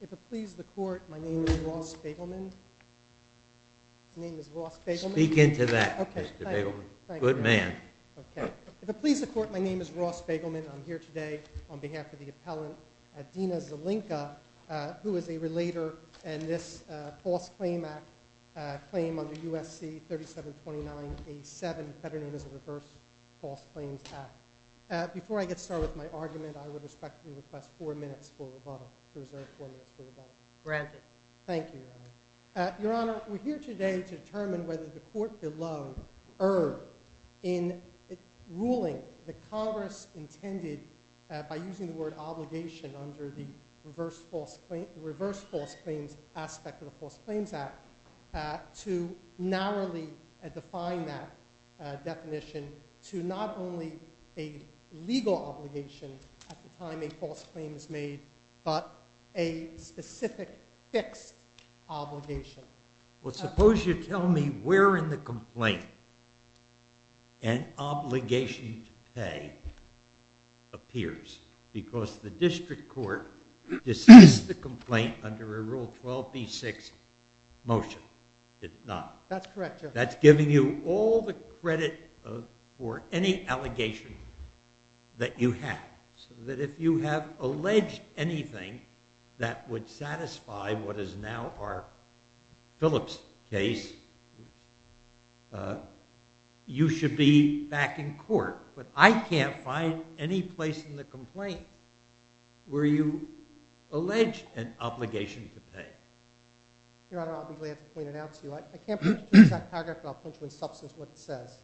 If it please the Court, my name is Ross Begelman, I'm here today on behalf of the appellant Dina Zelenka, who is a relator in this False Claim Act claim under U.S.C. 3729A7, better known as the Reverse False Claims Act. Before I get started with my argument, I would respectfully request four minutes for rebuttal. Granted. Thank you, Your Honor. Your Honor, we're here today to determine whether the Court below erred in ruling that Congress intended, by using the word obligation under the Reverse False Claims aspect of the False Claims Act, to narrowly define that definition to not only a legal obligation at the time a false claim is made, but a specific fixed obligation. Well, suppose you tell me where in the complaint an obligation to pay appears, because the District Court dismissed the complaint under a Rule 12b-6 motion. It's not. That's giving you all the credit for any allegation that you have, so that if you have alleged anything that would satisfy what is now our Phillips case, you should be back in court. But I can't find any place in the complaint where you allege an obligation to pay. Your Honor, I'll be glad to point it out to you. I can't put it in that paragraph, but I'll put you in substance what it says.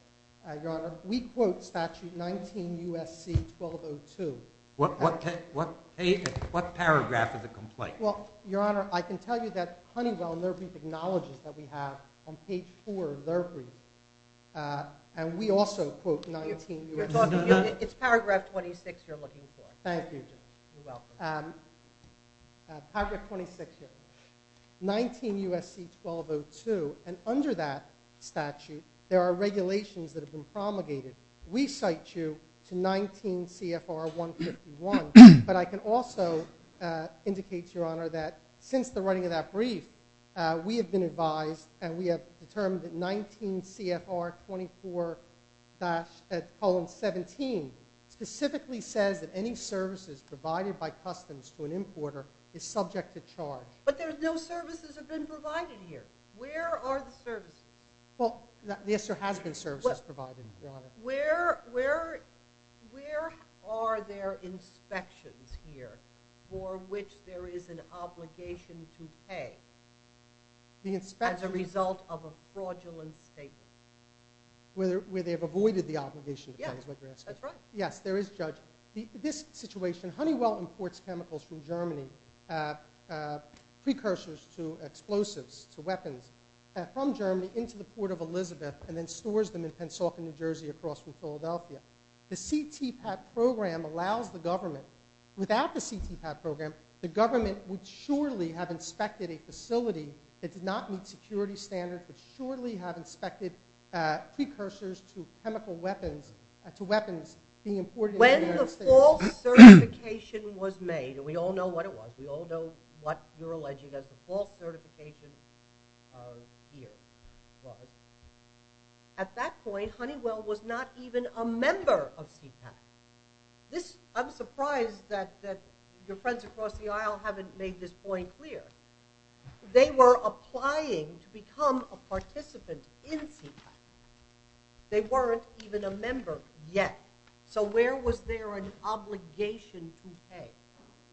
Your Honor, we quote Statute 19 U.S.C. 1202. What paragraph of the complaint? Well, Your Honor, I can tell you that Honeywell and Lurphy acknowledges that we have on page 4 Lurphy, and we also quote 19 U.S.C. It's paragraph 26 you're looking for. Thank you. You're welcome. Paragraph 26 here. 19 U.S.C. 1202, and under that statute there are regulations that have been promulgated. We cite you to 19 C.F.R. 151, but I can also indicate to Your Honor that since the writing of that brief, we have been advised and we have determined that 19 C.F.R. 24-17 specifically says that any services provided by customs to an importer is subject to charge. But no services have been provided here. Where are the services? Well, yes, there has been services provided, Your Honor. Where are there inspections here for which there is an obligation to pay as a result of a fraudulent statement? Where they have avoided the obligation, is what you're asking? Yes, that's right. Yes, there is, Judge. This situation, Honeywell imports chemicals from Germany, precursors to explosives, to weapons, from Germany into the Port of Elizabeth and then stores them in Pennsylvania, New Jersey, across from Philadelphia. The CTPAT program allows the government. Without the CTPAT program, the government would surely have inspected a facility that did not meet security standards, would surely have inspected precursors to chemical weapons, to weapons being imported into the United States. When the false certification was made, and we all know what it was, we all know what you're alleging that the false certification here was, at that point, Honeywell was not even a member of CTPAT. I'm surprised that your friends across the aisle haven't made this point clear. They were applying to become a participant in CTPAT. They weren't even a member yet. So where was there an obligation to pay?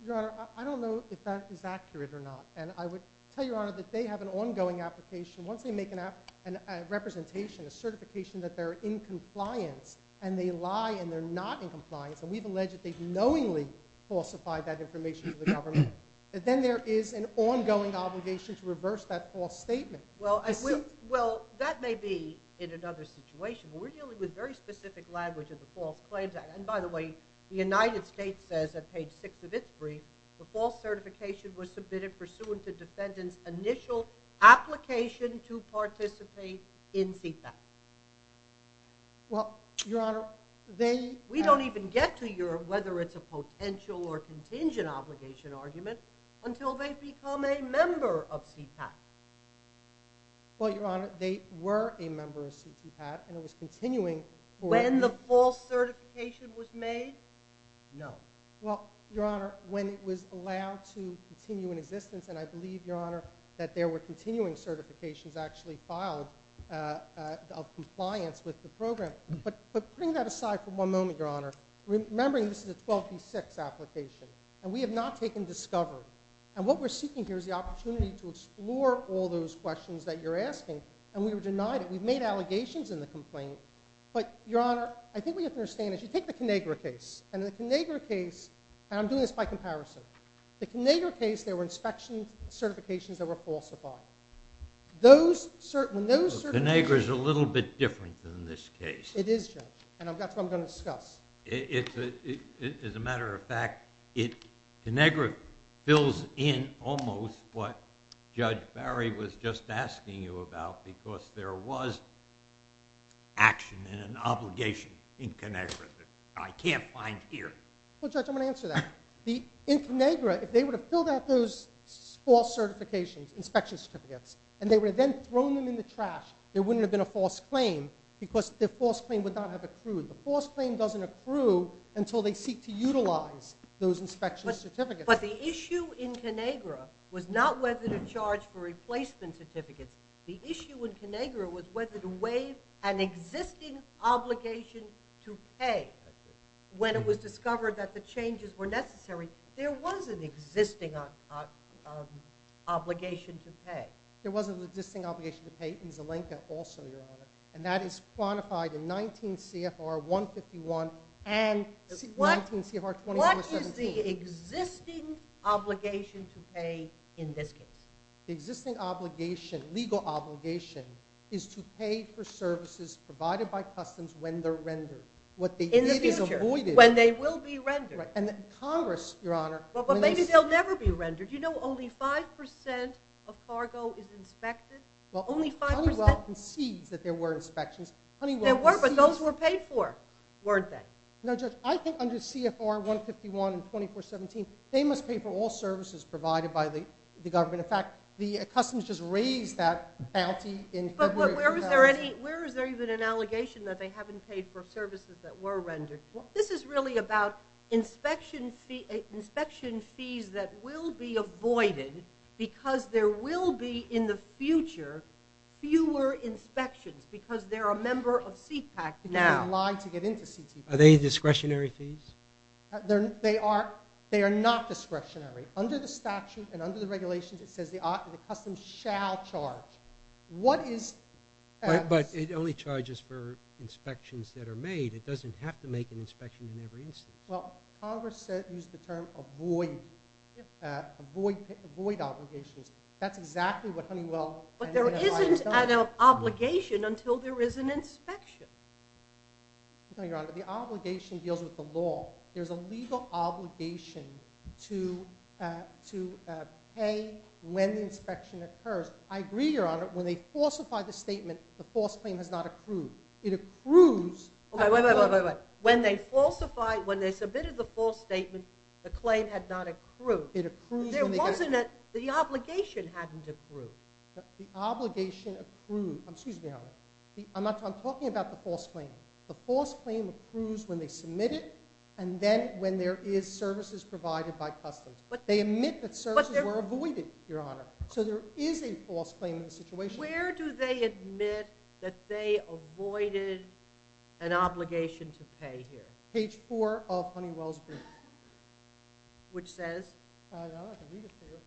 Your Honor, I don't know if that is accurate or not. And I would tell Your Honor that they have an ongoing application. Once they make a representation, a certification that they're in compliance and they lie and they're not in compliance, and we've alleged that they've knowingly falsified that information to the government, then there is an ongoing obligation to reverse that false statement. Well, that may be in another situation. We're dealing with very specific language in the False Claims Act. And by the way, the United States says at page 6 of its brief, the false certification was submitted pursuant to defendant's initial application to participate in CTPAT. Well, Your Honor, they... We don't even get to your whether it's a potential or contingent obligation argument until they become a member of CTPAT. Well, Your Honor, they were a member of CTPAT and it was continuing... When the false certification was made? No. Well, Your Honor, when it was allowed to continue in existence, and I believe, Your Honor, that there were continuing certifications actually filed of compliance with the program. But putting that aside for one moment, Your Honor, remembering this is a 12v6 application, and we have not taken discovery. And what we're seeking here is the opportunity to explore all those questions that you're asking, and we were denied it. But, Your Honor, I think what you have to understand is you take the Conagra case, and the Conagra case, and I'm doing this by comparison, the Conagra case, there were inspection certifications that were falsified. Those cert... Conagra's a little bit different than this case. It is, Judge, and that's what I'm going to discuss. As a matter of fact, Conagra fills in almost what Judge Barry was just asking you about because there was action and an obligation in Conagra that I can't find here. Well, Judge, I'm going to answer that. In Conagra, if they would have filled out those false certifications, inspection certificates, and they would have then thrown them in the trash, there wouldn't have been a false claim because the false claim would not have accrued. The false claim doesn't accrue until they seek to utilize those inspection certificates. But the issue in Conagra was not whether to charge for replacement certificates. The issue in Conagra was whether to waive an existing obligation to pay. When it was discovered that the changes were necessary, there was an existing obligation to pay. There was an existing obligation to pay in Zelenka also, Your Honor, and that is quantified in 19 CFR 151 and 19 CFR 21-17. What is the existing obligation to pay in this case? The existing obligation, legal obligation, is to pay for services provided by Customs when they're rendered. In the future, when they will be rendered. Congress, Your Honor— But maybe they'll never be rendered. You know only 5% of cargo is inspected? Only 5%? Honeywell concedes that there were inspections. There were, but those were paid for, weren't they? No, Judge, I think under CFR 151 and 24-17, they must pay for all services provided by the government. In fact, Customs just raised that bounty in February. But where is there even an allegation that they haven't paid for services that were rendered? This is really about inspection fees that will be avoided because there will be in the future fewer inspections because they're a member of CPAC now. Are they discretionary fees? They are not discretionary. Under the statute and under the regulations, it says the Customs shall charge. What is— But it only charges for inspections that are made. It doesn't have to make an inspection in every instance. Well, Congress used the term avoid obligations. That's exactly what Honeywell— But there isn't an obligation until there is an inspection. No, Your Honor, the obligation deals with the law. There's a legal obligation to pay when the inspection occurs. I agree, Your Honor, when they falsify the statement, the false claim has not accrued. It accrues— Wait, wait, wait, wait, wait. When they falsify—when they submitted the false statement, the claim had not accrued. It accrues when they— There wasn't a—the obligation hadn't accrued. The obligation accrued—excuse me, Your Honor. I'm talking about the false claim. The false claim accrues when they submit it and then when there is services provided by Customs. They admit that services were avoided, Your Honor. So there is a false claim in the situation. Where do they admit that they avoided an obligation to pay here? Page 4 of Honeywell's brief. Which says? I don't know. I can read it to you.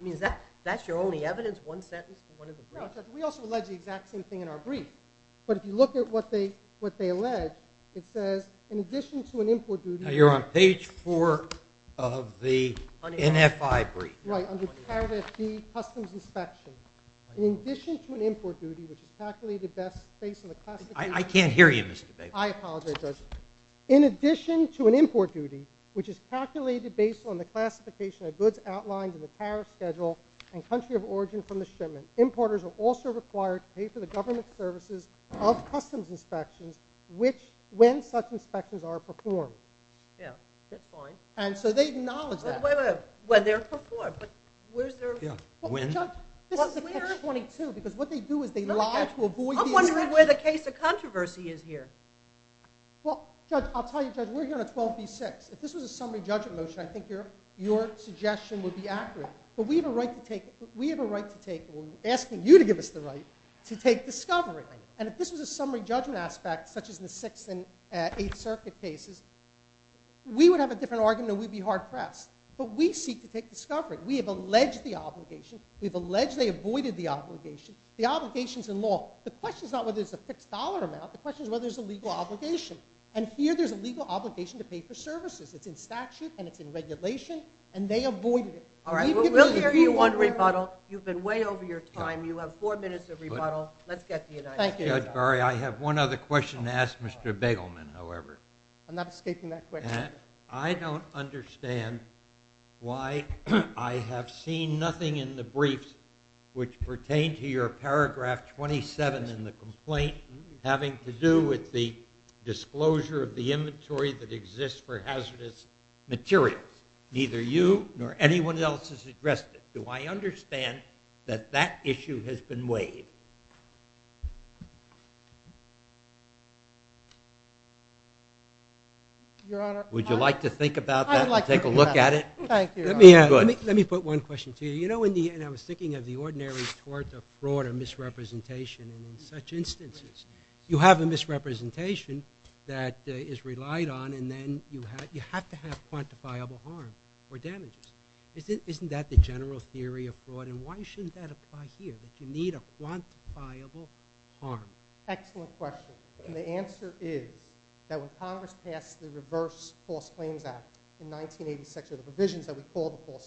I mean, is that—that's your only evidence, one sentence for one of the briefs? We also allege the exact same thing in our brief. But if you look at what they—what they allege, it says, in addition to an import duty— Now, you're on page 4 of the NFI brief. Right, under Paragraph D, Customs Inspection. In addition to an import duty, which is calculated based on the classification— I can't hear you, Mr. Davis. I apologize, Judge. In addition to an import duty, which is calculated based on the classification of goods outlined in the tariff schedule and country of origin from the shipment, importers are also required to pay for the government services of customs inspections, which—when such inspections are performed. Yeah, that's fine. And so they acknowledge that. Wait, wait, wait. When they're performed? Where's their— Yeah, when? This is page 22, because what they do is they lie to avoid the inspection. I'm wondering where the case of controversy is here. Well, Judge, I'll tell you, Judge, we're here on 12b-6. If this was a summary judgment motion, I think your suggestion would be accurate. But we have a right to take—we have a right to take—I'm asking you to give us the right to take discovery. And if this was a summary judgment aspect, such as in the Sixth and Eighth Circuit cases, we would have a different argument and we'd be hard-pressed. But we seek to take discovery. We have alleged the obligation. We have alleged they avoided the obligation. The obligation's in law. The question's not whether there's a fixed dollar amount. The question's whether there's a legal obligation. And here there's a legal obligation to pay for services. It's in statute and it's in regulation, and they avoided it. All right, well, we'll give you one rebuttal. You've been way over your time. You have four minutes of rebuttal. Let's get to you next. Thank you, Judge Barry. I have one other question to ask Mr. Begelman, however. I'm not escaping that question. I don't understand why I have seen nothing in the briefs which pertain to your paragraph 27 in the complaint having to do with the disclosure of the inventory that exists for hazardous materials. Neither you nor anyone else has addressed it. Do I understand that that issue has been weighed? Your Honor, I'd like to do that. Would you like to think about that and take a look at it? Thank you, Your Honor. Let me put one question to you. You know, and I was thinking of the ordinary tort or fraud or misrepresentation in such instances. You have a misrepresentation that is relied on, and then you have to have quantifiable harm or damages. Isn't that the general theory of fraud? And why shouldn't that apply here, that you need a quantifiable harm? Excellent question. And the answer is that when Congress passed the Reverse False Claims Act in 1986, or the provisions that we call the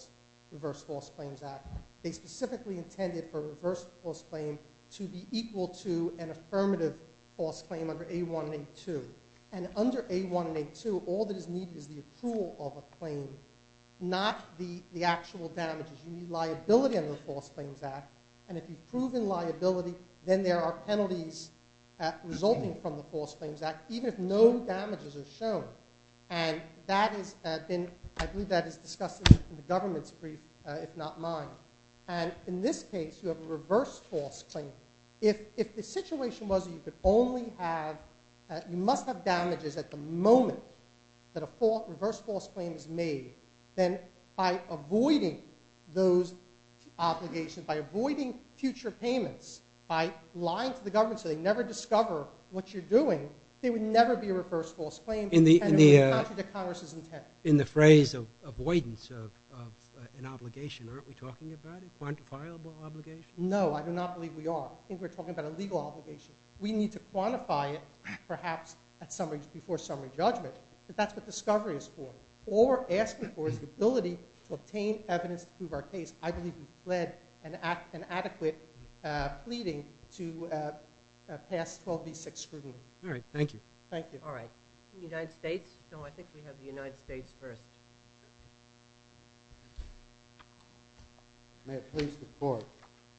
Reverse False Claims Act, they specifically intended for a reverse false claim to be equal to an affirmative false claim under A1 and A2. And under A1 and A2, all that is needed is the approval of a claim, not the actual damages. You need liability under the False Claims Act. And if you've proven liability, then there are penalties resulting from the False Claims Act, even if no damages are shown. And I believe that is discussed in the government's brief, if not mine. And in this case, you have a reverse false claim. If the situation was that you must have damages at the moment that a reverse false claim is made, then by avoiding those obligations, by avoiding future payments, by lying to the government so they never discover what you're doing, there would never be a reverse false claim, and it would be contrary to Congress's intent. In the phrase of avoidance of an obligation, aren't we talking about a quantifiable obligation? No, I do not believe we are. I think we're talking about a legal obligation. We need to quantify it, perhaps before summary judgment. But that's what discovery is for. Or asking for is the ability to obtain evidence to prove our case. I believe you've led an adequate pleading to pass 12B6 scrutiny. All right, thank you. Thank you. All right. The United States? No, I think we have the United States first. May it please the Court.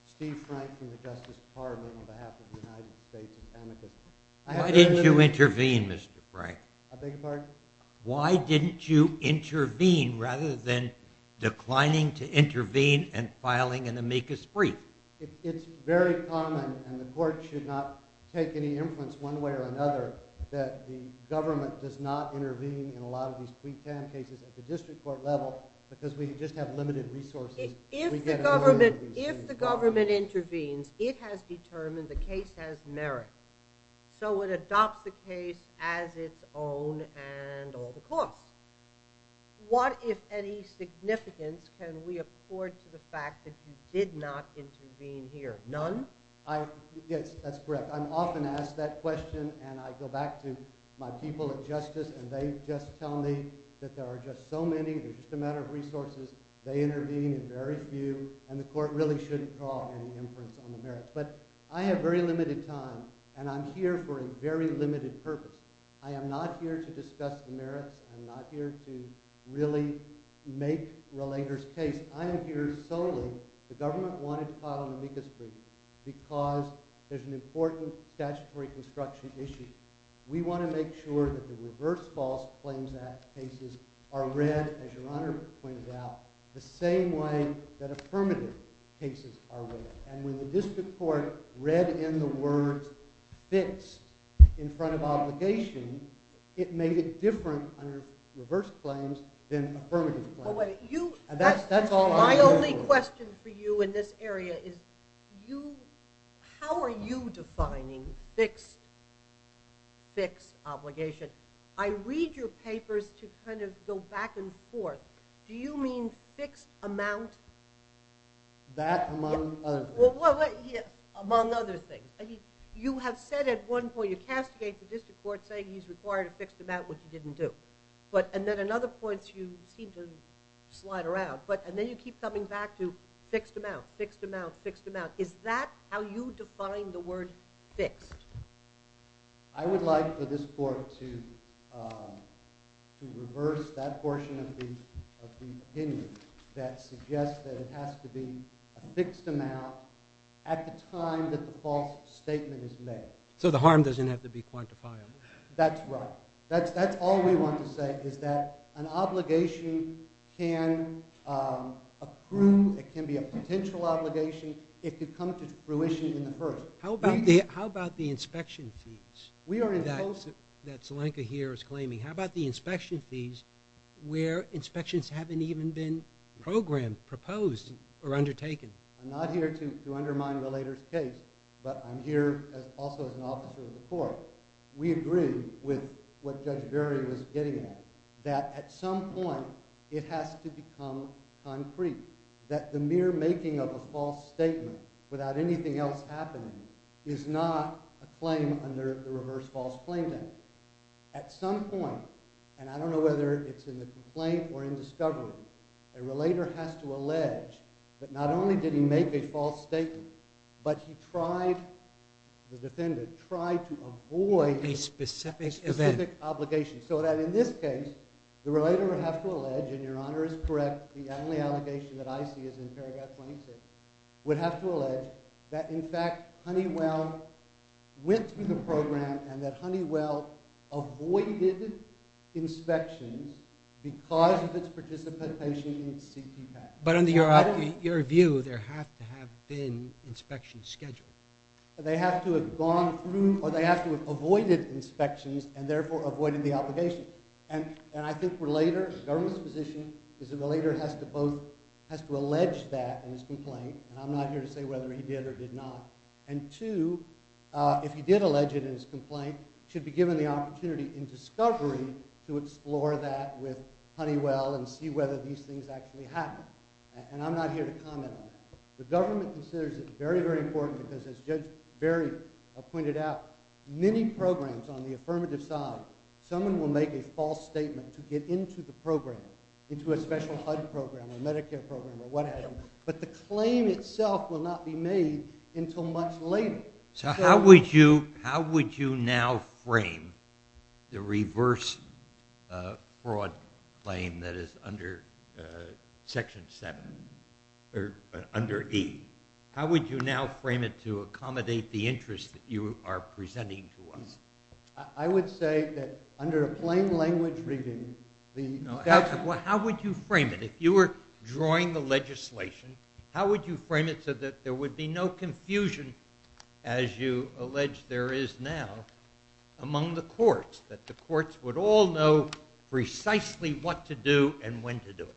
Steve Frank from the Justice Department on behalf of the United States of America. Why didn't you intervene, Mr. Frank? I beg your pardon? Why didn't you intervene rather than declining to intervene and filing an amicus brief? It's very common, and the Court should not take any influence one way or another, that the government does not intervene in a lot of these pre-trial cases at the district court level because we just have limited resources. If the government intervenes, it has determined the case has merit. So it adopts the case as its own and all the costs. What, if any, significance can we accord to the fact that you did not intervene here? None? Yes, that's correct. I'm often asked that question, and I go back to my people at Justice, and they just tell me that there are just so many, it's just a matter of resources, they intervene, and very few, and the Court really shouldn't call any influence on the merit. But I have very limited time, and I'm here for a very limited purpose. I am not here to discuss the merits. I'm not here to really make Rallager's case. I am here solely, the government wanted to file an amicus brief because there's an important statutory construction issue. We want to make sure that the Reverse False Claims Act cases are read, as Your Honor pointed out, the same way that affirmative cases are read. And when the district court read in the words fixed in front of obligation, it made it different under reverse claims than affirmative claims. My only question for you in this area is how are you defining fixed obligation? I read your papers to kind of go back and forth. Do you mean fixed amount? That among other things. Among other things. You have said at one point you castigate the district court saying he's required a fixed amount, which he didn't do. And then another point you seem to slide around, and then you keep coming back to fixed amount, fixed amount, fixed amount. Is that how you define the word fixed? I would like for this Court to reverse that portion of the opinion that suggests that it has to be a fixed amount at the time that the false statement is made. So the harm doesn't have to be quantifiable. That's right. That's all we want to say is that an obligation can accrue. It can be a potential obligation. It could come to fruition in the first. How about the inspection fees that Zelenka here is claiming? How about the inspection fees where inspections haven't even been programmed, proposed, or undertaken? I'm not here to undermine the later case, but I'm here also as an officer of the Court. We agree with what Judge Berry was getting at, that at some point it has to become concrete, that the mere making of a false statement without anything else happening is not a claim under the Reverse False Claim Act. At some point, and I don't know whether it's in the complaint or in discovery, a relator has to allege that not only did he make a false statement, but he tried to avoid a specific obligation. So that in this case, the relator would have to allege, and Your Honor is correct, the only allegation that I see is in paragraph 26, would have to allege that, in fact, Honeywell went through the program and that Honeywell avoided inspections because of its participation in CPPAC. But under your view, there have to have been inspections scheduled. They have to have gone through, or they have to have avoided inspections, and therefore avoided the obligation. And I think the relator, the government's position, is the relator has to both, has to allege that in his complaint, and I'm not here to say whether he did or did not, and two, if he did allege it in his complaint, should be given the opportunity in discovery to explore that with Honeywell and see whether these things actually happened. And I'm not here to comment on that. The government considers it very, very important because, as Judge Berry pointed out, many programs on the affirmative side, someone will make a false statement to get into the program, into a special HUD program or Medicare program or whatever, but the claim itself will not be made until much later. So how would you now frame the reverse fraud claim that is under Section 7, or under E? How would you now frame it to accommodate the interest that you are presenting to us? I would say that, under a plain language reading, Well, how would you frame it? If you were drawing the legislation, how would you frame it so that there would be no confusion, as you allege there is now, among the courts, that the courts would all know precisely what to do and when to do it?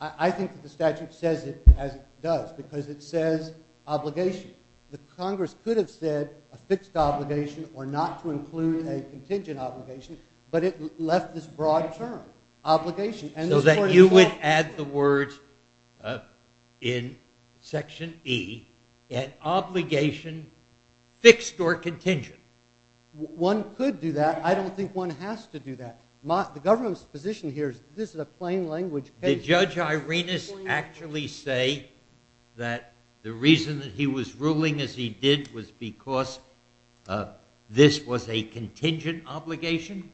I think that the statute says it as it does because it says obligation. The Congress could have said a fixed obligation or not to include a contingent obligation, but it left this broad term, obligation. So that you would add the words in Section E, an obligation fixed or contingent. One could do that. I don't think one has to do that. The government's position here is this is a plain language case. Did Judge Irenas actually say that the reason that he was ruling as he did was because this was a contingent obligation?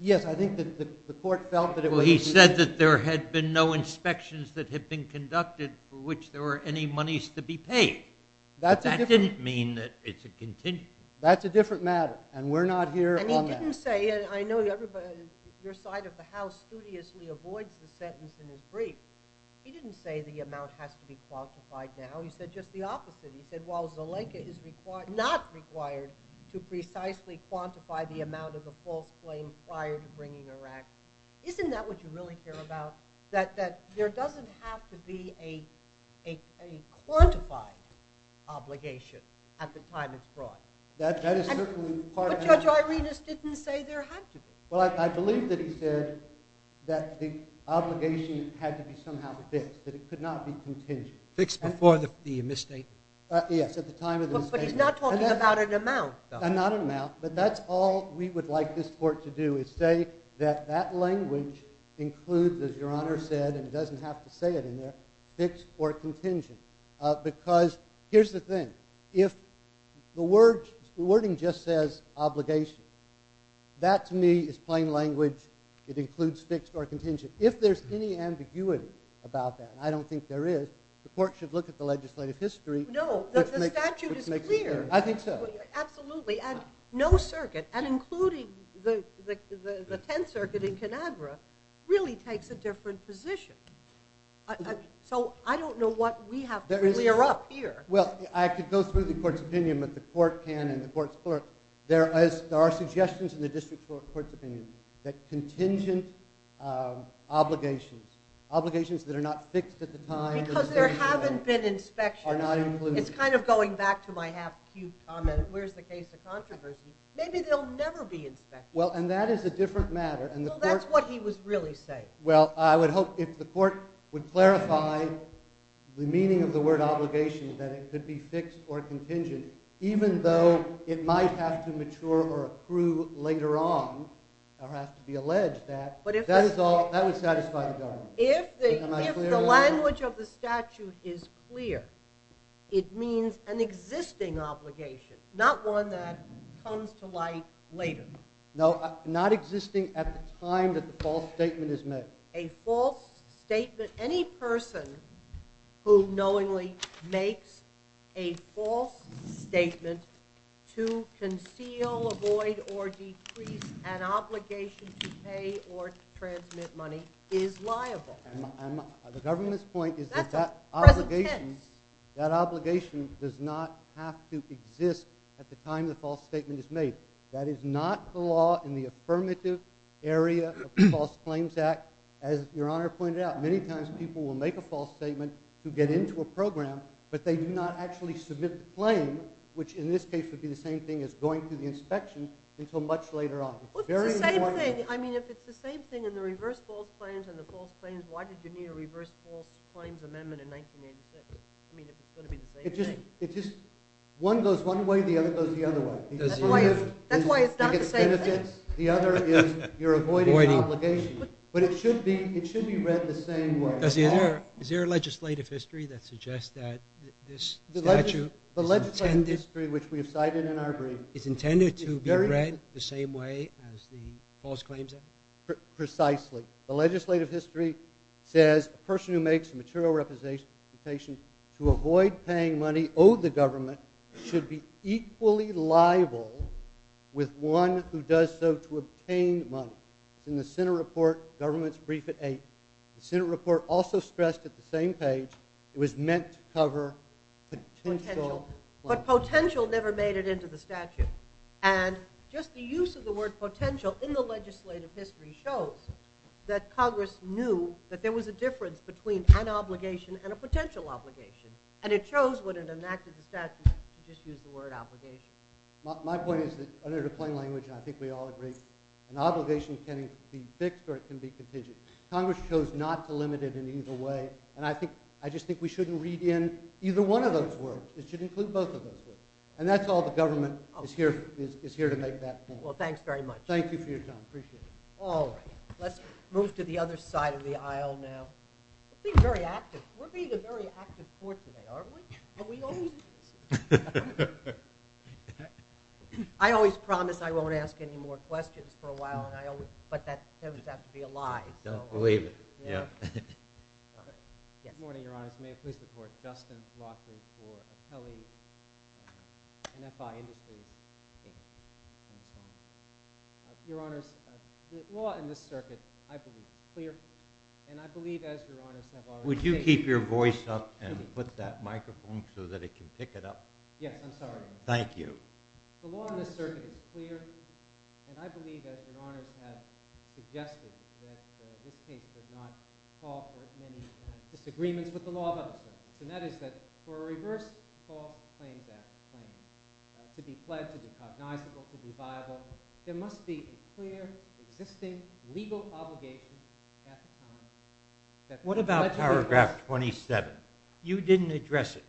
Yes, I think that the court felt that it was a contingent obligation. Well, he said that there had been no inspections that had been conducted for which there were any monies to be paid. That didn't mean that it's a contingent obligation. That's a different matter, and we're not here on that. I know your side of the House studiously avoids the sentence in his brief. He didn't say the amount has to be quantified now. He said just the opposite. He said, well, Zelenka is not required to precisely quantify the amount of the false claim prior to bringing her act. Isn't that what you really care about, that there doesn't have to be a quantified obligation at the time it's brought? But Judge Irenas didn't say there had to be. Well, I believe that he said that the obligation had to be somehow fixed, that it could not be contingent. Fixed before the misstatement. Yes, at the time of the misstatement. But he's not talking about an amount. Not an amount. But that's all we would like this court to do, is say that that language includes, as Your Honor said, and doesn't have to say it in there, fixed or contingent. Because here's the thing. If the wording just says obligation, that to me is plain language. It includes fixed or contingent. If there's any ambiguity about that, and I don't think there is, the court should look at the legislative history. No, the statute is clear. I think so. Absolutely. And no circuit, and including the Tenth Circuit in Conagra, really takes a different position. So I don't know what we have to clear up here. Well, I could go through the court's opinion, but the court can and the court's clerk. There are suggestions in the district court's opinion that contingent obligations, obligations that are not fixed at the time. Because there haven't been inspections. Are not included. It's kind of going back to my half-cubed comment, where's the case of controversy. Maybe they'll never be inspected. Well, and that is a different matter. Well, that's what he was really saying. Well, I would hope if the court would clarify the meaning of the word obligation, that it could be fixed or contingent, even though it might have to mature or approve later on, or have to be alleged that. That would satisfy the government. If the language of the statute is clear, it means an existing obligation, not one that comes to light later. No, not existing at the time that the false statement is made. A false statement. Any person who knowingly makes a false statement to conceal, avoid or decrease an obligation to pay or transmit money is liable. The government's point is that that obligation does not have to exist at the time the false statement is made. That is not the law in the affirmative area of the False Claims Act. As Your Honor pointed out, many times people will make a false statement to get into a program, but they do not actually submit the claim, which in this case would be the same thing as going through the inspection until much later on. Well, it's the same thing. I mean, if it's the same thing in the reverse false claims and the false claims, why did you need a reverse false claims amendment in 1986? I mean, if it's going to be the same thing. One goes one way, the other goes the other way. That's why it's not the same thing. The other is you're avoiding obligation. But it should be read the same way. Is there a legislative history that suggests that this statute is intended to be read the same way as the False Claims Act? Precisely. The legislative history says a person who makes a material representation to avoid paying money owed the government should be equally liable with one who does so to obtain money. In the Senate report, government's brief at 8, the Senate report also stressed at the same page it was meant to cover potential. But potential never made it into the statute. And just the use of the word potential in the legislative history shows that Congress knew that there was a difference between an obligation and a potential obligation. And it shows when it enacted the statute to just use the word obligation. My point is that under the plain language, and I think we all agree, an obligation can be fixed or it can be contingent. Congress chose not to limit it in either way. And I just think we shouldn't read in either one of those words. It should include both of those words. And that's all the government is here to make that point. Well, thanks very much. Thank you for your time. Appreciate it. All right. Let's move to the other side of the aisle now. We're being very active. We're being a very active court today, aren't we? Are we always? I always promise I won't ask any more questions for a while, but that would have to be a lie. He doesn't believe it. Yeah. Good morning, Your Honors. May it please the Court. Justin Lockwood for Appellee NFI Industries. Your Honors, the law in this circuit, I believe, is clear, and I believe, as Your Honors have already said. Would you keep your voice up and put that microphone so that it can pick it up? Yes, I'm sorry. Thank you. The law in this circuit is clear, and I believe, as Your Honors have suggested, that this case does not call for as many disagreements with the law of others. And that is that for a reverse call claim to be pledged, to be cognizable, to be viable, there must be a clear existing legal obligation at the time. What about Paragraph 27? You didn't address it.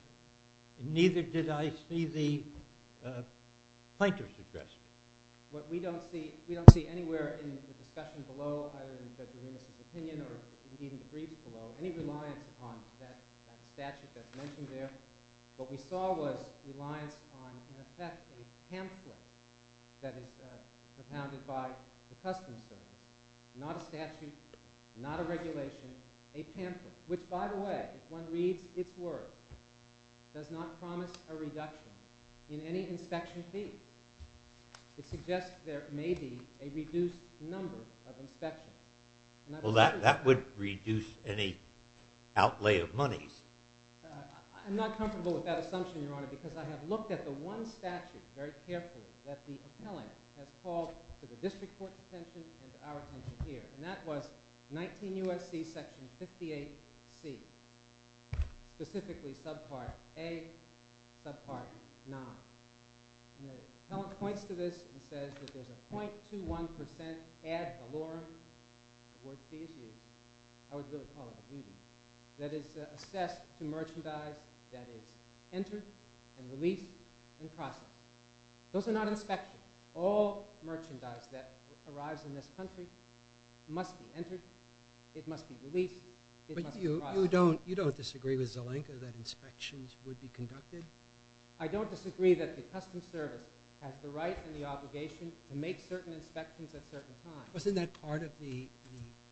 Neither did I see the plaintiff's address. What we don't see anywhere in the discussion below, either in Judge Arenas' opinion or even the brief below, any reliance upon that statute that's mentioned there. What we saw was reliance on, in effect, a pamphlet that is propounded by the customs service, not a statute, not a regulation, a pamphlet, which, by the way, if one reads its words, does not promise a reduction in any inspection fee. It suggests there may be a reduced number of inspections. Well, that would reduce any outlay of monies. I'm not comfortable with that assumption, Your Honor, because I have looked at the one statute very carefully that the appellant has called for the district court's attention and our attention here, and that was 19 U.S.C. Section 58C, specifically Subpart A, Subpart 9. The appellant points to this and says that there's a .21% ad valorem, the word she has used, I would really call it a duty, that is assessed to merchandise that is entered and released and processed. Those are not inspections. All merchandise that arrives in this country must be entered, it must be released, it must be processed. But you don't disagree with Zelenka that inspections would be conducted? I don't disagree that the customs service has the right and the obligation to make certain inspections at certain times. Wasn't that part of the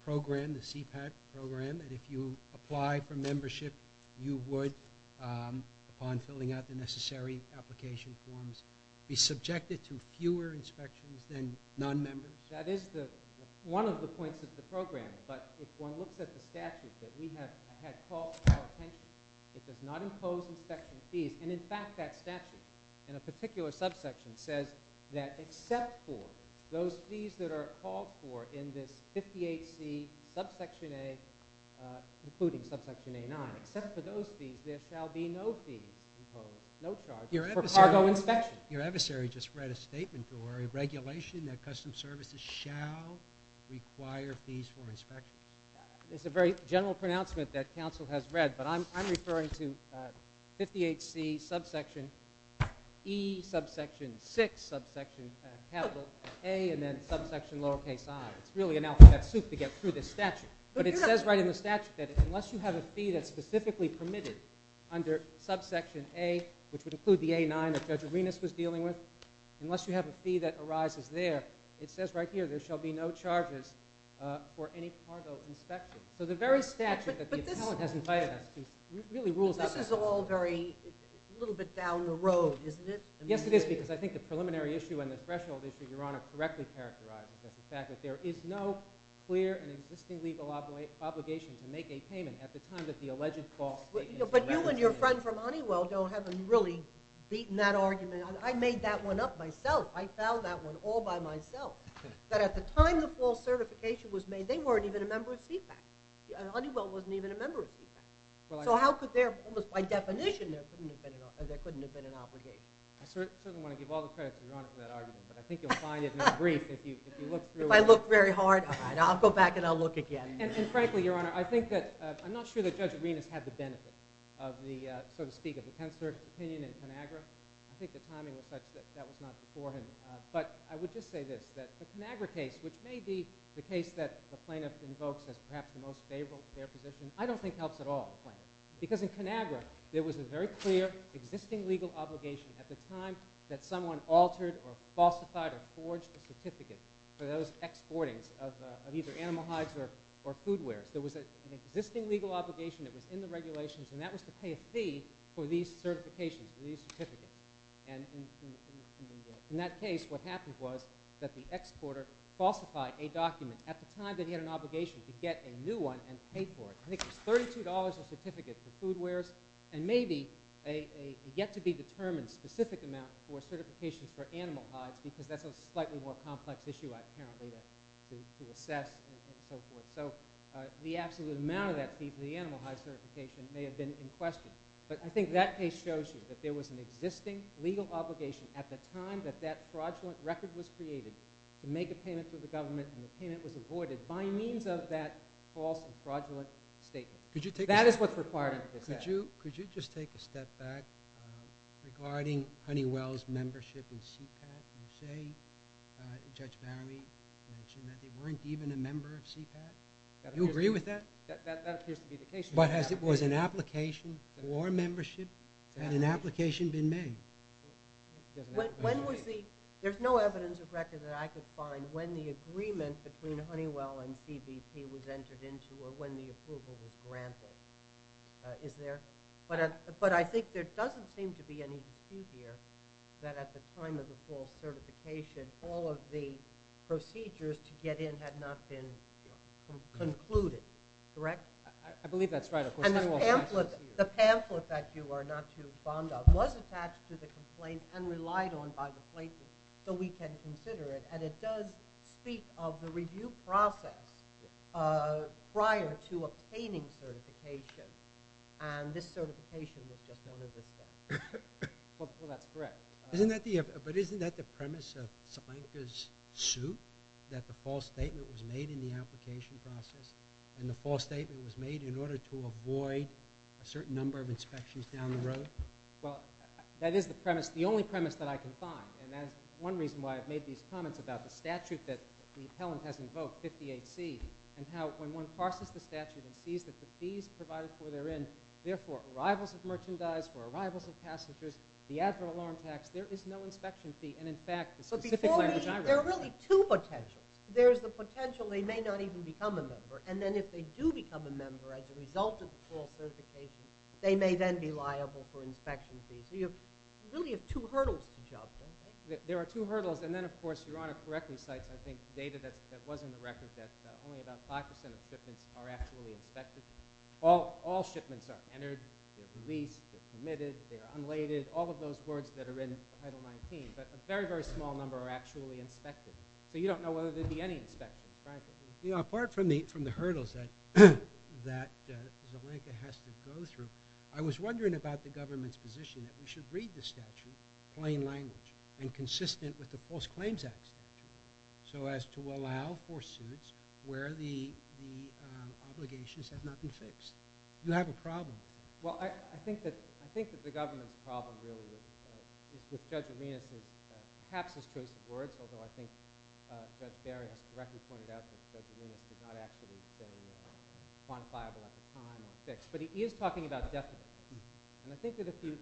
program, the CPAC program, that if you apply for membership, you would, upon filling out the necessary application forms, be subjected to fewer inspections than non-members? That is one of the points of the program. But if one looks at the statute that we have called for our attention, it does not impose inspection fees. And, in fact, that statute in a particular subsection says that except for those fees that are called for in this 58C, Subsection A, including Subsection A9, except for those fees, there shall be no fees imposed, no charges, for cargo inspection. Your adversary just read a statement or a regulation that customs services shall require fees for inspection. It's a very general pronouncement that counsel has read, but I'm referring to 58C, Subsection E, Subsection 6, Subsection A, and then Subsection lower case I. It's really an alphabet soup to get through this statute. But it says right in the statute that unless you have a fee that's specifically permitted under Subsection A, which would include the A9 that Judge Arenas was dealing with, unless you have a fee that arises there, it says right here, there shall be no charges for any cargo inspection. So the very statute that the appellant has invited us to really rules out— This is all very—a little bit down the road, isn't it? Yes, it is, because I think the preliminary issue and the threshold issue, Your Honor, correctly characterize the fact that there is no clear and existing legal obligation to make a payment at the time that the alleged false statement— But you and your friend from Honeywell haven't really beaten that argument. I made that one up myself. I found that one all by myself, that at the time the false certification was made, they weren't even a member of CFAC. Honeywell wasn't even a member of CFAC. So how could there—almost by definition, there couldn't have been an obligation. I certainly want to give all the credit to Your Honor for that argument, but I think you'll find it in the brief if you look through it. If I look very hard, all right, I'll go back and I'll look again. And frankly, Your Honor, I think that— I'm not sure that Judge Arenas had the benefit of the, so to speak, of the Pensler opinion in ConAgra. I think the timing was such that that was not before him. But I would just say this, that the ConAgra case, which may be the case that the plaintiff invokes as perhaps the most favorable chair position, I don't think helps at all the plaintiff, because in ConAgra there was a very clear existing legal obligation at the time that someone altered or falsified or forged a certificate for those exportings of either animal hides or food wares. There was an existing legal obligation that was in the regulations, and that was to pay a fee for these certifications, these certificates. And in that case, what happened was that the exporter falsified a document at the time that he had an obligation to get a new one and pay for it. I think it was $32 a certificate for food wares and maybe a yet-to-be-determined specific amount for certifications for animal hides, because that's a slightly more complex issue, apparently, to assess and so forth. So the absolute amount of that fee for the animal hides certification may have been in question. But I think that case shows you that there was an existing legal obligation at the time that that fraudulent record was created to make a payment to the government, and the payment was avoided by means of that false and fraudulent statement. That is what's required under this act. Could you just take a step back regarding Honeywell's membership in CPAC? You say, Judge Barry, that they weren't even a member of CPAC. Do you agree with that? That appears to be the case. But was an application for membership? Had an application been made? There's no evidence of record that I could find when the agreement between Honeywell and CBP was entered into or when the approval was granted. Is there? But I think there doesn't seem to be any dispute here that at the time of the false certification, all of the procedures to get in had not been concluded. Correct? I believe that's right. And the pamphlet that you are not too fond of was attached to the complaint and relied on by the places, so we can consider it. And it does speak of the review process prior to obtaining certification, and this certification was just one of the steps. Well, that's correct. But isn't that the premise of Sipankar's suit, that the false statement was made in the application process and the false statement was made in order to avoid a certain number of inspections down the road? Well, that is the premise, the only premise that I can find, and that's one reason why I've made these comments about the statute that the appellant has invoked, 58C, and how when one parses the statute and sees that the fees provided for therein, therefore arrivals of merchandise, for arrivals of passengers, the advert alarm tax, there is no inspection fee, and in fact, the specific language I refer to. There are really two potentials. There is the potential they may not even become a member, and then if they do become a member as a result of the false certification, they may then be liable for inspection fees. So you really have two hurdles to juggle. There are two hurdles. And then, of course, Your Honor correctly cites, I think, data that was in the record that only about 5% of shipments are actually inspected. All shipments are entered, they're released, they're committed, they're unladed, all of those words that are in Title 19. But a very, very small number are actually inspected. So you don't know whether there will be any inspections, frankly. You know, apart from the hurdles that Zelenka has to go through, I was wondering about the government's position that we should read the statute plain language and consistent with the False Claims Act statute so as to allow for suits where the obligations have not been fixed. Do you have a problem? Well, I think that the government's problem really is with Judge Arminius's perhaps his first words, although I think Judge Barry has correctly pointed out that Judge Arminius has not actually been quantifiable at the time or fixed. But he is talking about death penalty. And I think that if you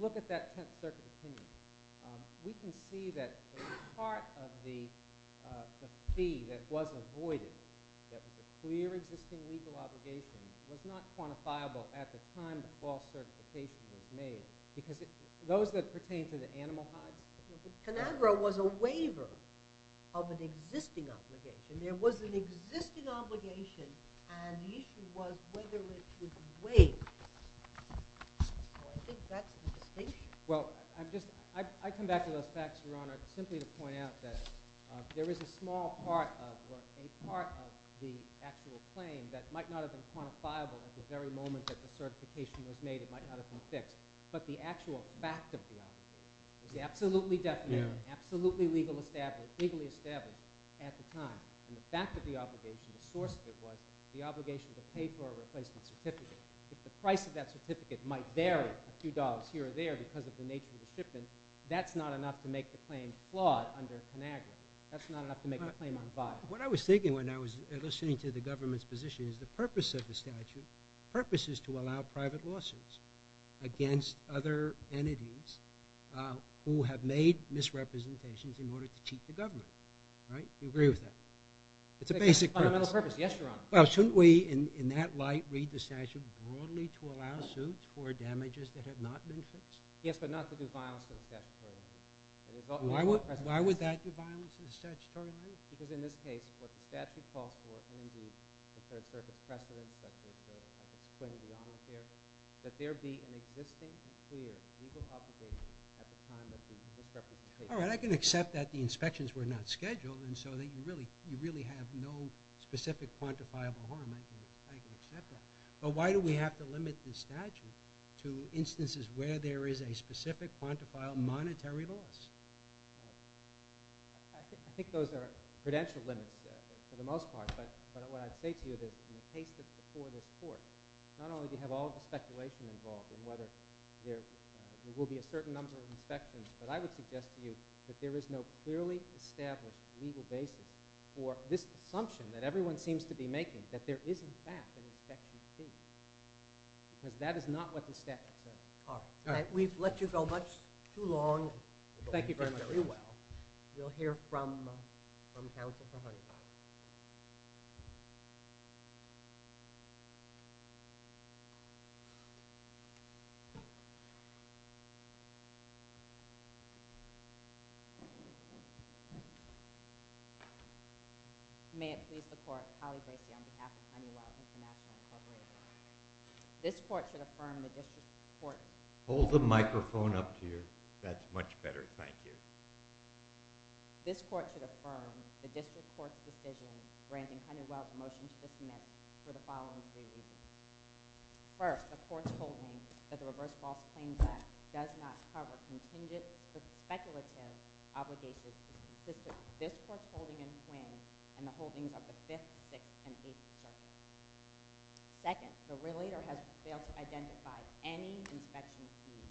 look at that Tenth Circuit opinion, we can see that part of the fee that was avoided, that was a clear existing legal obligation, was not quantifiable at the time the false certification was made because those that pertain to the animal hives. Conagra was a waiver of an existing obligation. There was an existing obligation, and the issue was whether it was waived. So I think that's the distinction. Well, I come back to those facts, Your Honor, simply to point out that there is a small part of the actual claim that might not have been quantifiable at the very moment that the certification was made. It might not have been fixed. But the actual fact of the obligation was absolutely definite, absolutely legally established at the time. And the fact of the obligation, the source of it, was the obligation to pay for a replacement certificate. If the price of that certificate might vary a few dollars here or there because of the nature of the shipment, that's not enough to make the claim flawed under Conagra. That's not enough to make the claim unviable. What I was thinking when I was listening to the government's position is the purpose of the statute, the purpose is to allow private lawsuits against other entities who have made misrepresentations in order to cheat the government. Right? Do you agree with that? It's a basic purpose. It's a fundamental purpose. Yes, Your Honor. Well, shouldn't we, in that light, read the statute broadly to allow suits for damages that have not been fixed? Yes, but not to do violence to the statutory entity. Why would that do violence to the statutory entity? Because in this case, what the statute calls for and the third circuit precedent, which I've explained beyond here, that there be an existing and clear legal obligation at the time of the misrepresentation. All right. I can accept that the inspections were not scheduled and so that you really have no specific quantifiable harm. I can accept that. But why do we have to limit the statute to instances where there is a specific quantifiable monetary loss? I think those are credential limits for the most part. But what I'd say to you is in the case that's before this Court, not only do you have all the speculation involved in whether there will be a certain number of inspections, but I would suggest to you that there is no clearly established legal basis for this assumption that everyone seems to be making that there is, in fact, an inspection fee. Because that is not what the statute says. All right. We've let you go much too long. Thank you very much. You'll hear from counsel for a hundred times. Thank you. May it please the Court, Holly Bracey on behalf of Honeywell International Incorporated. This Court should affirm the District Court's... Hold the microphone up to you. That's much better. Thank you. This Court should affirm the District Court's decision granting Honeywell's motion to submit for the following three reasons. First, the Court's ruling that the reverse false claim does not cover contingent with speculative obligations to consistent with this Court's holding in twin and the holdings of the Fifth, Sixth, and Eighth Circuit. Second, the relator has failed to identify any inspection fee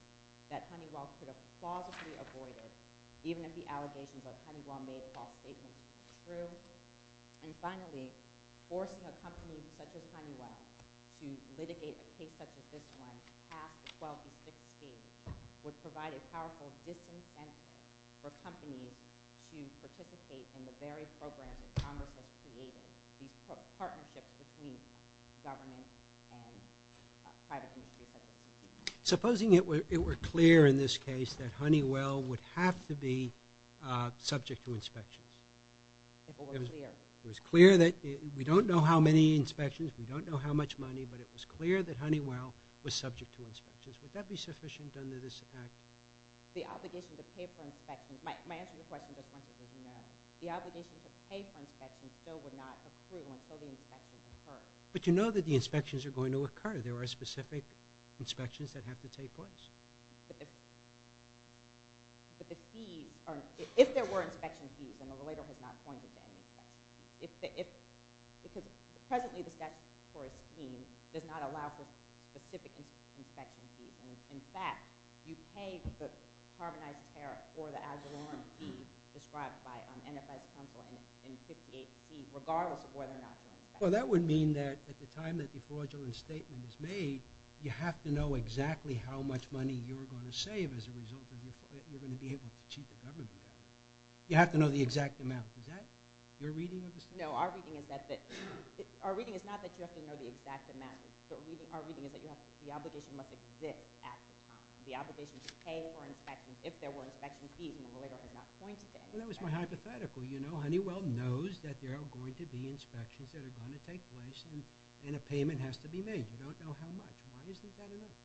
that Honeywell could have plausibly avoided even if the allegations of Honeywell-made false statements were true. And finally, forcing a company such as Honeywell to litigate a case such as this one past the 12th and 16th would provide a powerful disincentive for companies to participate in the very programs that Congress has created, these partnerships between government and private industry. Supposing it were clear in this case that Honeywell would have to be subject to inspections. If it were clear. If it was clear that we don't know how many inspections, we don't know how much money, but it was clear that Honeywell was subject to inspections, would that be sufficient under this Act? The obligation to pay for inspections, my answer to the question just once is no. The obligation to pay for inspections still would not accrue until the inspections occur. But you know that the inspections are going to occur. There are specific inspections that have to take place. But the fees, if there were inspection fees, then the relator has not pointed to any fees. Because presently the statute for a fee does not allow for specific inspection fees. In fact, you pay the carbonized tariff or the Agilorum fee described by NFI's counsel in 58C, regardless of whether or not you're inspected. Well, that would mean that at the time that the fraudulent statement is made, you have to know exactly how much money you're going to save as a result of it. You're going to be able to cheat the government. You have to know the exact amount. Is that your reading of the statute? No, our reading is not that you have to know the exact amount. Our reading is that the obligation must exist at the time. The obligation to pay for inspections, if there were inspection fees, then the relator has not pointed to any fees. Well, that was my hypothetical. Honeywell knows that there are going to be inspections that are going to take place and a payment has to be made. We don't know how much. Why isn't that enough?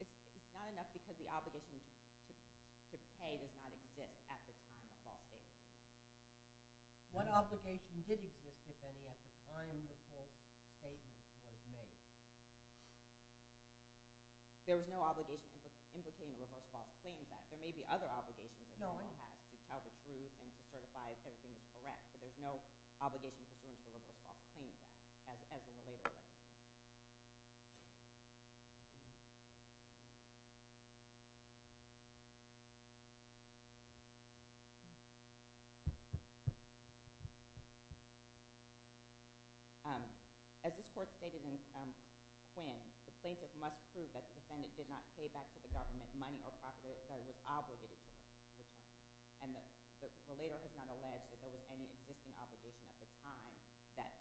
It's not enough because the obligation to pay does not exist at the time the false statement was made. What obligation did exist, if any, at the time the false statement was made? There was no obligation implicating the Reverse False Claims Act. There may be other obligations that the law has to tell the truth and to certify if everything is correct, but there's no obligation pursuant to the Reverse False Claims Act, as the relator said. As this Court stated in Quinn, the plaintiff must prove that the defendant did not pay back to the government money or property that was obligated to him. And the relator has not alleged that there was any existing obligation at the time that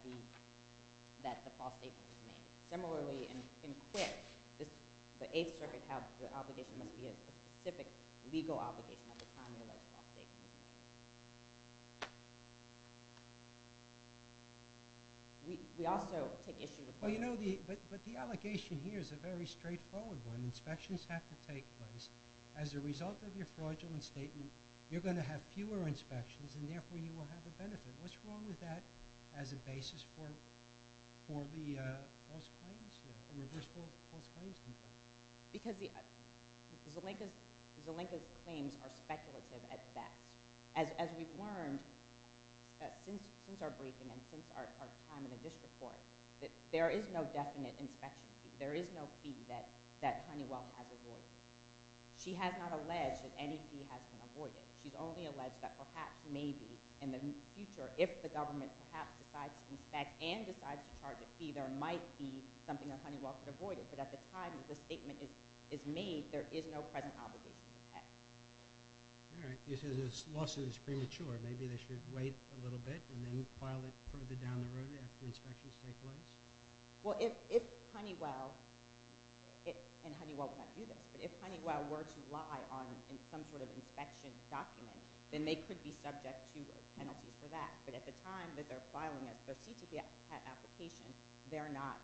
the false statement was made. Similarly, in Quinn, the Eighth Circuit has the obligation to be a specific legal obligation at the time the false statement was made. We also take issue with... But the allegation here is a very straightforward one. Inspections have to take place. As a result of your fraudulent statement, you're going to have fewer inspections and therefore you will have a benefit. What's wrong with that as a basis for the reverse false claims? Because Zelenka's claims are speculative at best. As we've learned since our briefing and since our time in the district court, there is no definite inspection fee. There is no fee that Honeywell has avoided. She has not alleged that any fee has been avoided. She's only alleged that perhaps, maybe, in the future, if the government perhaps decides to inspect and decides to charge a fee, there might be something that Honeywell could avoid. But at the time that the statement is made, there is no present obligation to pay. All right. You say this lawsuit is premature. Maybe they should wait a little bit and then file it further down the road after inspections take place? Well, if Honeywell... And Honeywell would not do this. But if Honeywell were to lie on some sort of inspection document, then they could be subject to a penalty for that. But at the time that they're filing their suit application, they're not...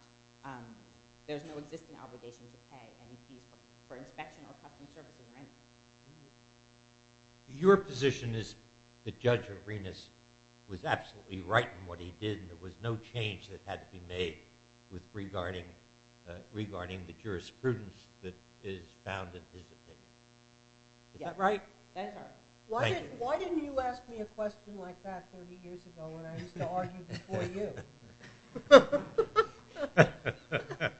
There's no existing obligation to pay any fee for inspection or custom service or anything. Your position is that Judge Arenas was absolutely right in what he did and there was no change that had to be made regarding the jurisprudence that is found in his opinion. Is that right? Why didn't you ask me a question like that 30 years ago when I used to argue before you? LAUGHTER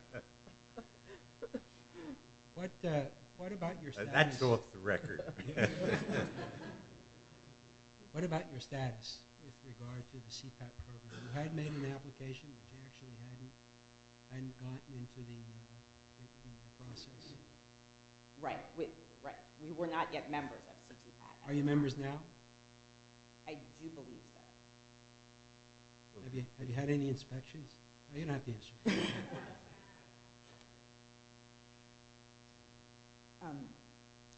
What about your status? That's off the record. What about your status with regard to the CPAP program? You had made an application, but you actually hadn't gotten into the process. Right, right. We were not yet members of CPAP. Are you members now? I do believe so. Have you had any inspections? You don't have to answer.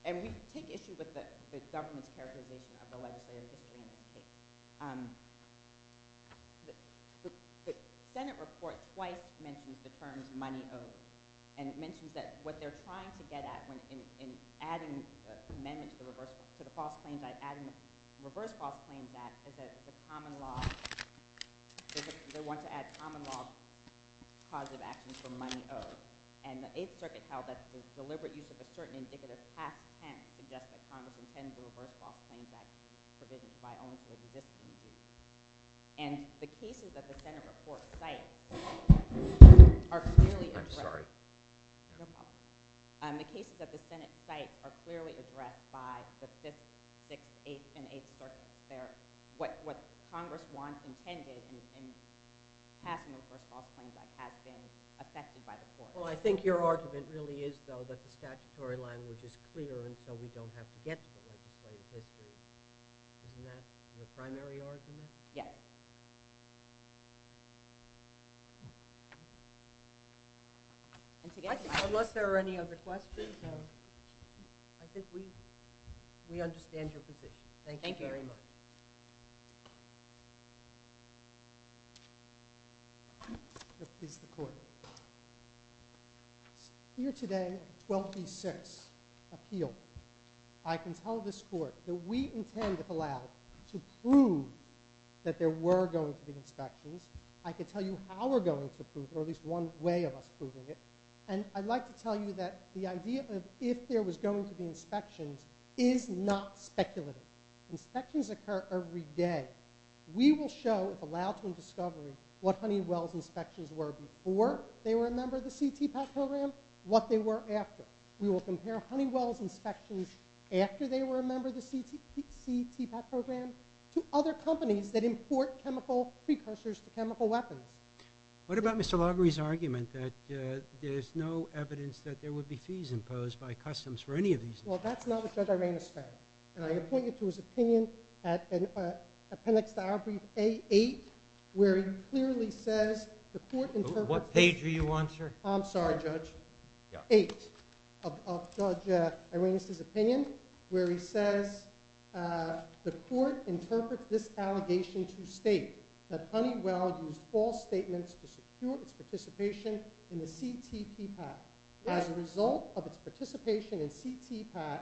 And we take issue with the government's characterization of the legislative history in this case. The Senate report twice mentions the terms money owed and mentions that what they're trying to get at in adding amendments to the reverse false claims act is that they want to add common law causative actions for money owed. And the Eighth Circuit held that the deliberate use of a certain indicative past tense suggests that Congress intends to reverse false claims act provisions by only for the existing use. And the cases that the Senate report cites are clearly addressed. I'm sorry. No problem. The cases that the Senate cite are clearly addressed by the Fifth, Sixth, Eighth, and Eighth Circuit. They're what Congress once intended in passing the reverse false claims act has been affected by the court. Well, I think your argument really is, though, that the statutory language is clear and so we don't have to get to the legislative history. Isn't that your primary argument? Yes. Unless there are any other questions, I think we understand your position. Thank you very much. Thank you. This is the court. Here today, 12D6, appeal. I can tell this court that we intend, if allowed, to prove that there were going to be inspections. I can tell you how we're going to prove it, or at least one way of us proving it. And I'd like to tell you that the idea of if there was going to be inspections is not speculative. Inspections occur every day. We will show, if allowed to in discovery, what Honeywell's inspections were before they were a member of the CTPAT program, what they were after. We will compare Honeywell's inspections after they were a member of the CTPAT program to other companies that import chemical precursors to chemical weapons. What about Mr. Largary's argument that there's no evidence that there would be fees imposed by customs for any of these things? Well, that's not what Judge Irena said. And I point you to his opinion at appendix to our brief A8, where he clearly says the court interprets... What page are you on, sir? I'm sorry, Judge. Yeah. A8 of Judge Irena's opinion, where he says the court interprets this allegation to state that Honeywell used false statements to secure its participation in the CTPAT. As a result of its participation in CTPAT,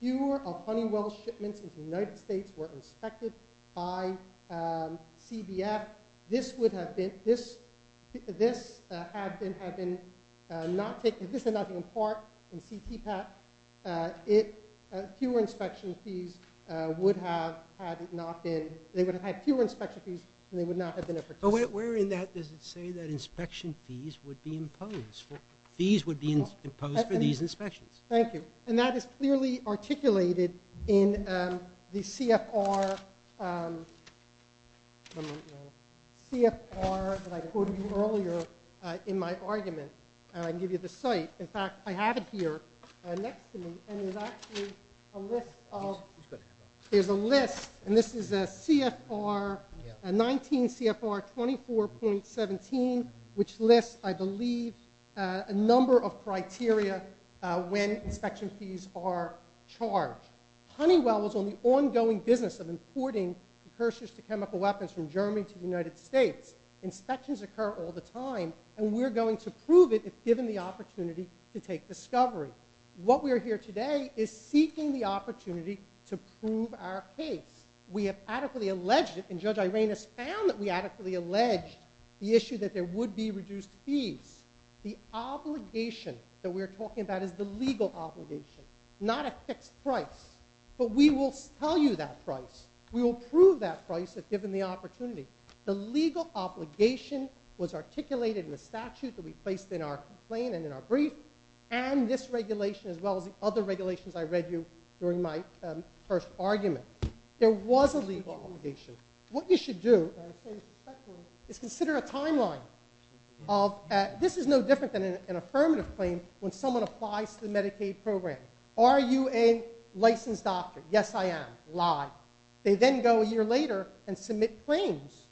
fewer of Honeywell's shipments into the United States were inspected by CBF. This would have been... This had been not taken... This had not been a part in CTPAT. Fewer inspection fees would have had not been... They would have had fewer inspection fees and they would not have been a participant. But where in that does it say that inspection fees would be imposed? Fees would be imposed for these inspections. Thank you. And that is clearly articulated in the CFR... CFR that I quoted you earlier in my argument. I can give you the site. In fact, I have it here next to me. And there's actually a list of... There's a list. And this is a CFR... A 19 CFR 24.17, which lists, I believe, a number of criteria when inspection fees are charged. Honeywell was on the ongoing business of importing precursors to chemical weapons from Germany to the United States. Inspections occur all the time. And we're going to prove it if given the opportunity to take discovery. What we are here today is seeking the opportunity to prove our case. We have adequately alleged it, and Judge Irena's found that we adequately alleged the issue that there would be reduced fees. The obligation that we're talking about is the legal obligation, not a fixed price. But we will tell you that price. We will prove that price if given the opportunity. The legal obligation was articulated in the statute that we placed in our complaint and in our brief. And this regulation, as well as the other regulations I read you during my first argument, there was a legal obligation. What you should do is consider a timeline. This is no different than an affirmative claim when someone applies to the Medicaid program. Are you a licensed doctor? Yes, I am. Lie. They then go a year later and submit claims.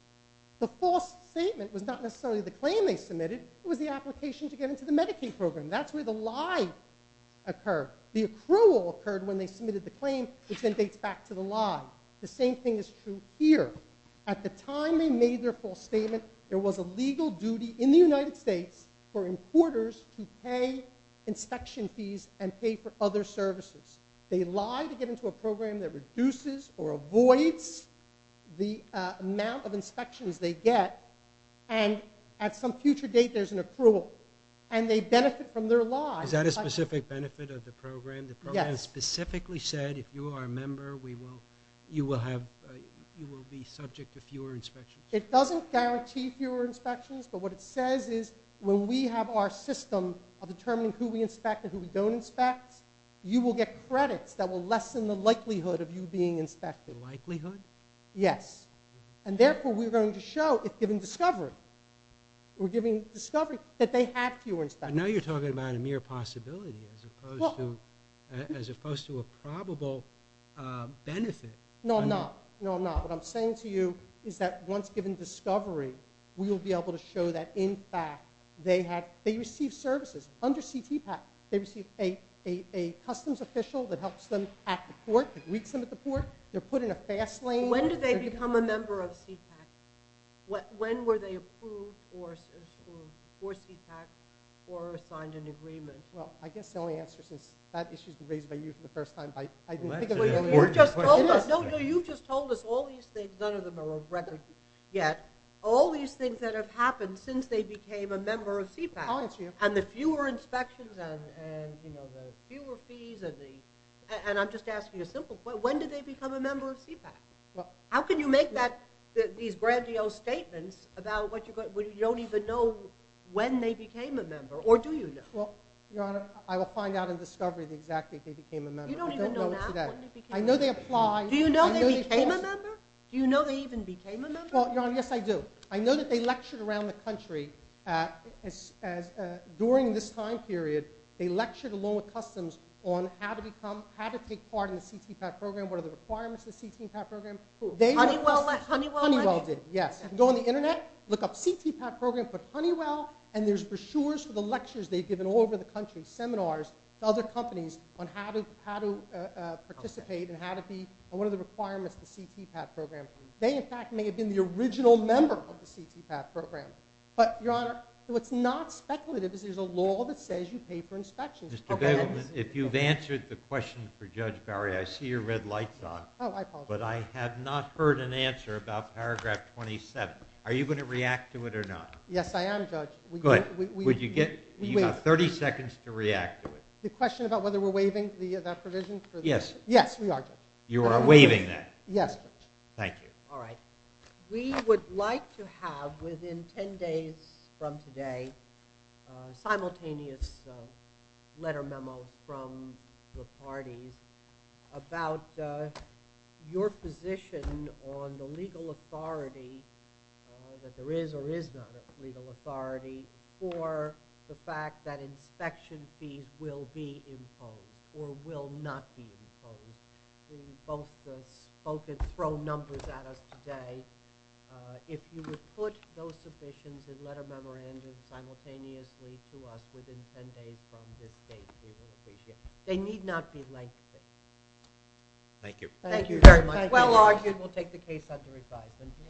The false statement was not necessarily the claim they submitted. It was the application to get into the Medicaid program. That's where the lie occurred. The accrual occurred when they submitted the claim, which then dates back to the lie. The same thing is true here. At the time they made their false statement, there was a legal duty in the United States for importers to pay inspection fees and pay for other services. They lie to get into a program that reduces or avoids the amount of inspections they get, and at some future date there's an accrual. And they benefit from their lie. Is that a specific benefit of the program? Yes. The program specifically said if you are a member, you will be subject to fewer inspections. It doesn't guarantee fewer inspections, but what it says is when we have our system of determining who we inspect and who we don't inspect, you will get credits that will lessen the likelihood of you being inspected. Likelihood? Yes. And therefore we're going to show, if given discovery, we're giving discovery that they have fewer inspections. I know you're talking about a mere possibility as opposed to a probable benefit. No, I'm not. No, I'm not. What I'm saying to you is that once given discovery, we will be able to show that, in fact, they receive services. Under CTPAC, they receive a customs official that helps them at the port, that greets them at the port. They're put in a fast lane. When did they become a member of CTPAC? When were they approved for CTPAC or signed an agreement? Well, I guess the only answer is that issue has been raised by you for the first time. You just told us all these things. None of them are of record yet. All these things that have happened since they became a member of CTPAC. I'll answer your question. And the fewer inspections and the fewer fees. And I'm just asking a simple question. When did they become a member of CTPAC? How can you make these grandiose statements about what you don't even know when they became a member? Or do you know? Well, Your Honor, I will find out in discovery exactly if they became a member. You don't even know now when they became a member? Do you know they became a member? Do you know they even became a member? Well, Your Honor, yes, I do. I know that they lectured around the country. During this time period, they lectured along with customs on how to take part in the CTPAC program, what are the requirements of the CTPAC program. Honeywell did, yes. Go on the Internet, look up CTPAC program for Honeywell, and there's brochures for the lectures they've given all over the country, seminars to other companies on how to participate and what are the requirements of the CTPAC program. They, in fact, may have been the original member of the CTPAC program. But, Your Honor, what's not speculative is there's a law that says you pay for inspections. If you've answered the question for Judge Barry, I see your red light's on. Oh, I apologize. But I have not heard an answer about paragraph 27. Are you going to react to it or not? Yes, I am, Judge. Good. You've got 30 seconds to react to it. The question about whether we're waiving that provision? Yes. Yes, we are, Judge. You are waiving that? Yes, Judge. Thank you. All right. We would like to have, within 10 days from today, a simultaneous letter memo from the parties about your position on the legal authority that there is or is not a legal authority for the fact that inspection fees will be imposed or will not be imposed. Both have thrown numbers at us today. If you would put those submissions in letter memorandums simultaneously to us within 10 days from this date, we would appreciate it. They need not be lengthy. Thank you. Thank you very much. Well argued. We'll take the case under revise. Thank you. Thank you. Thank you. Thank you. Thank you. Thank you. Thank you. Thank you. Thank you.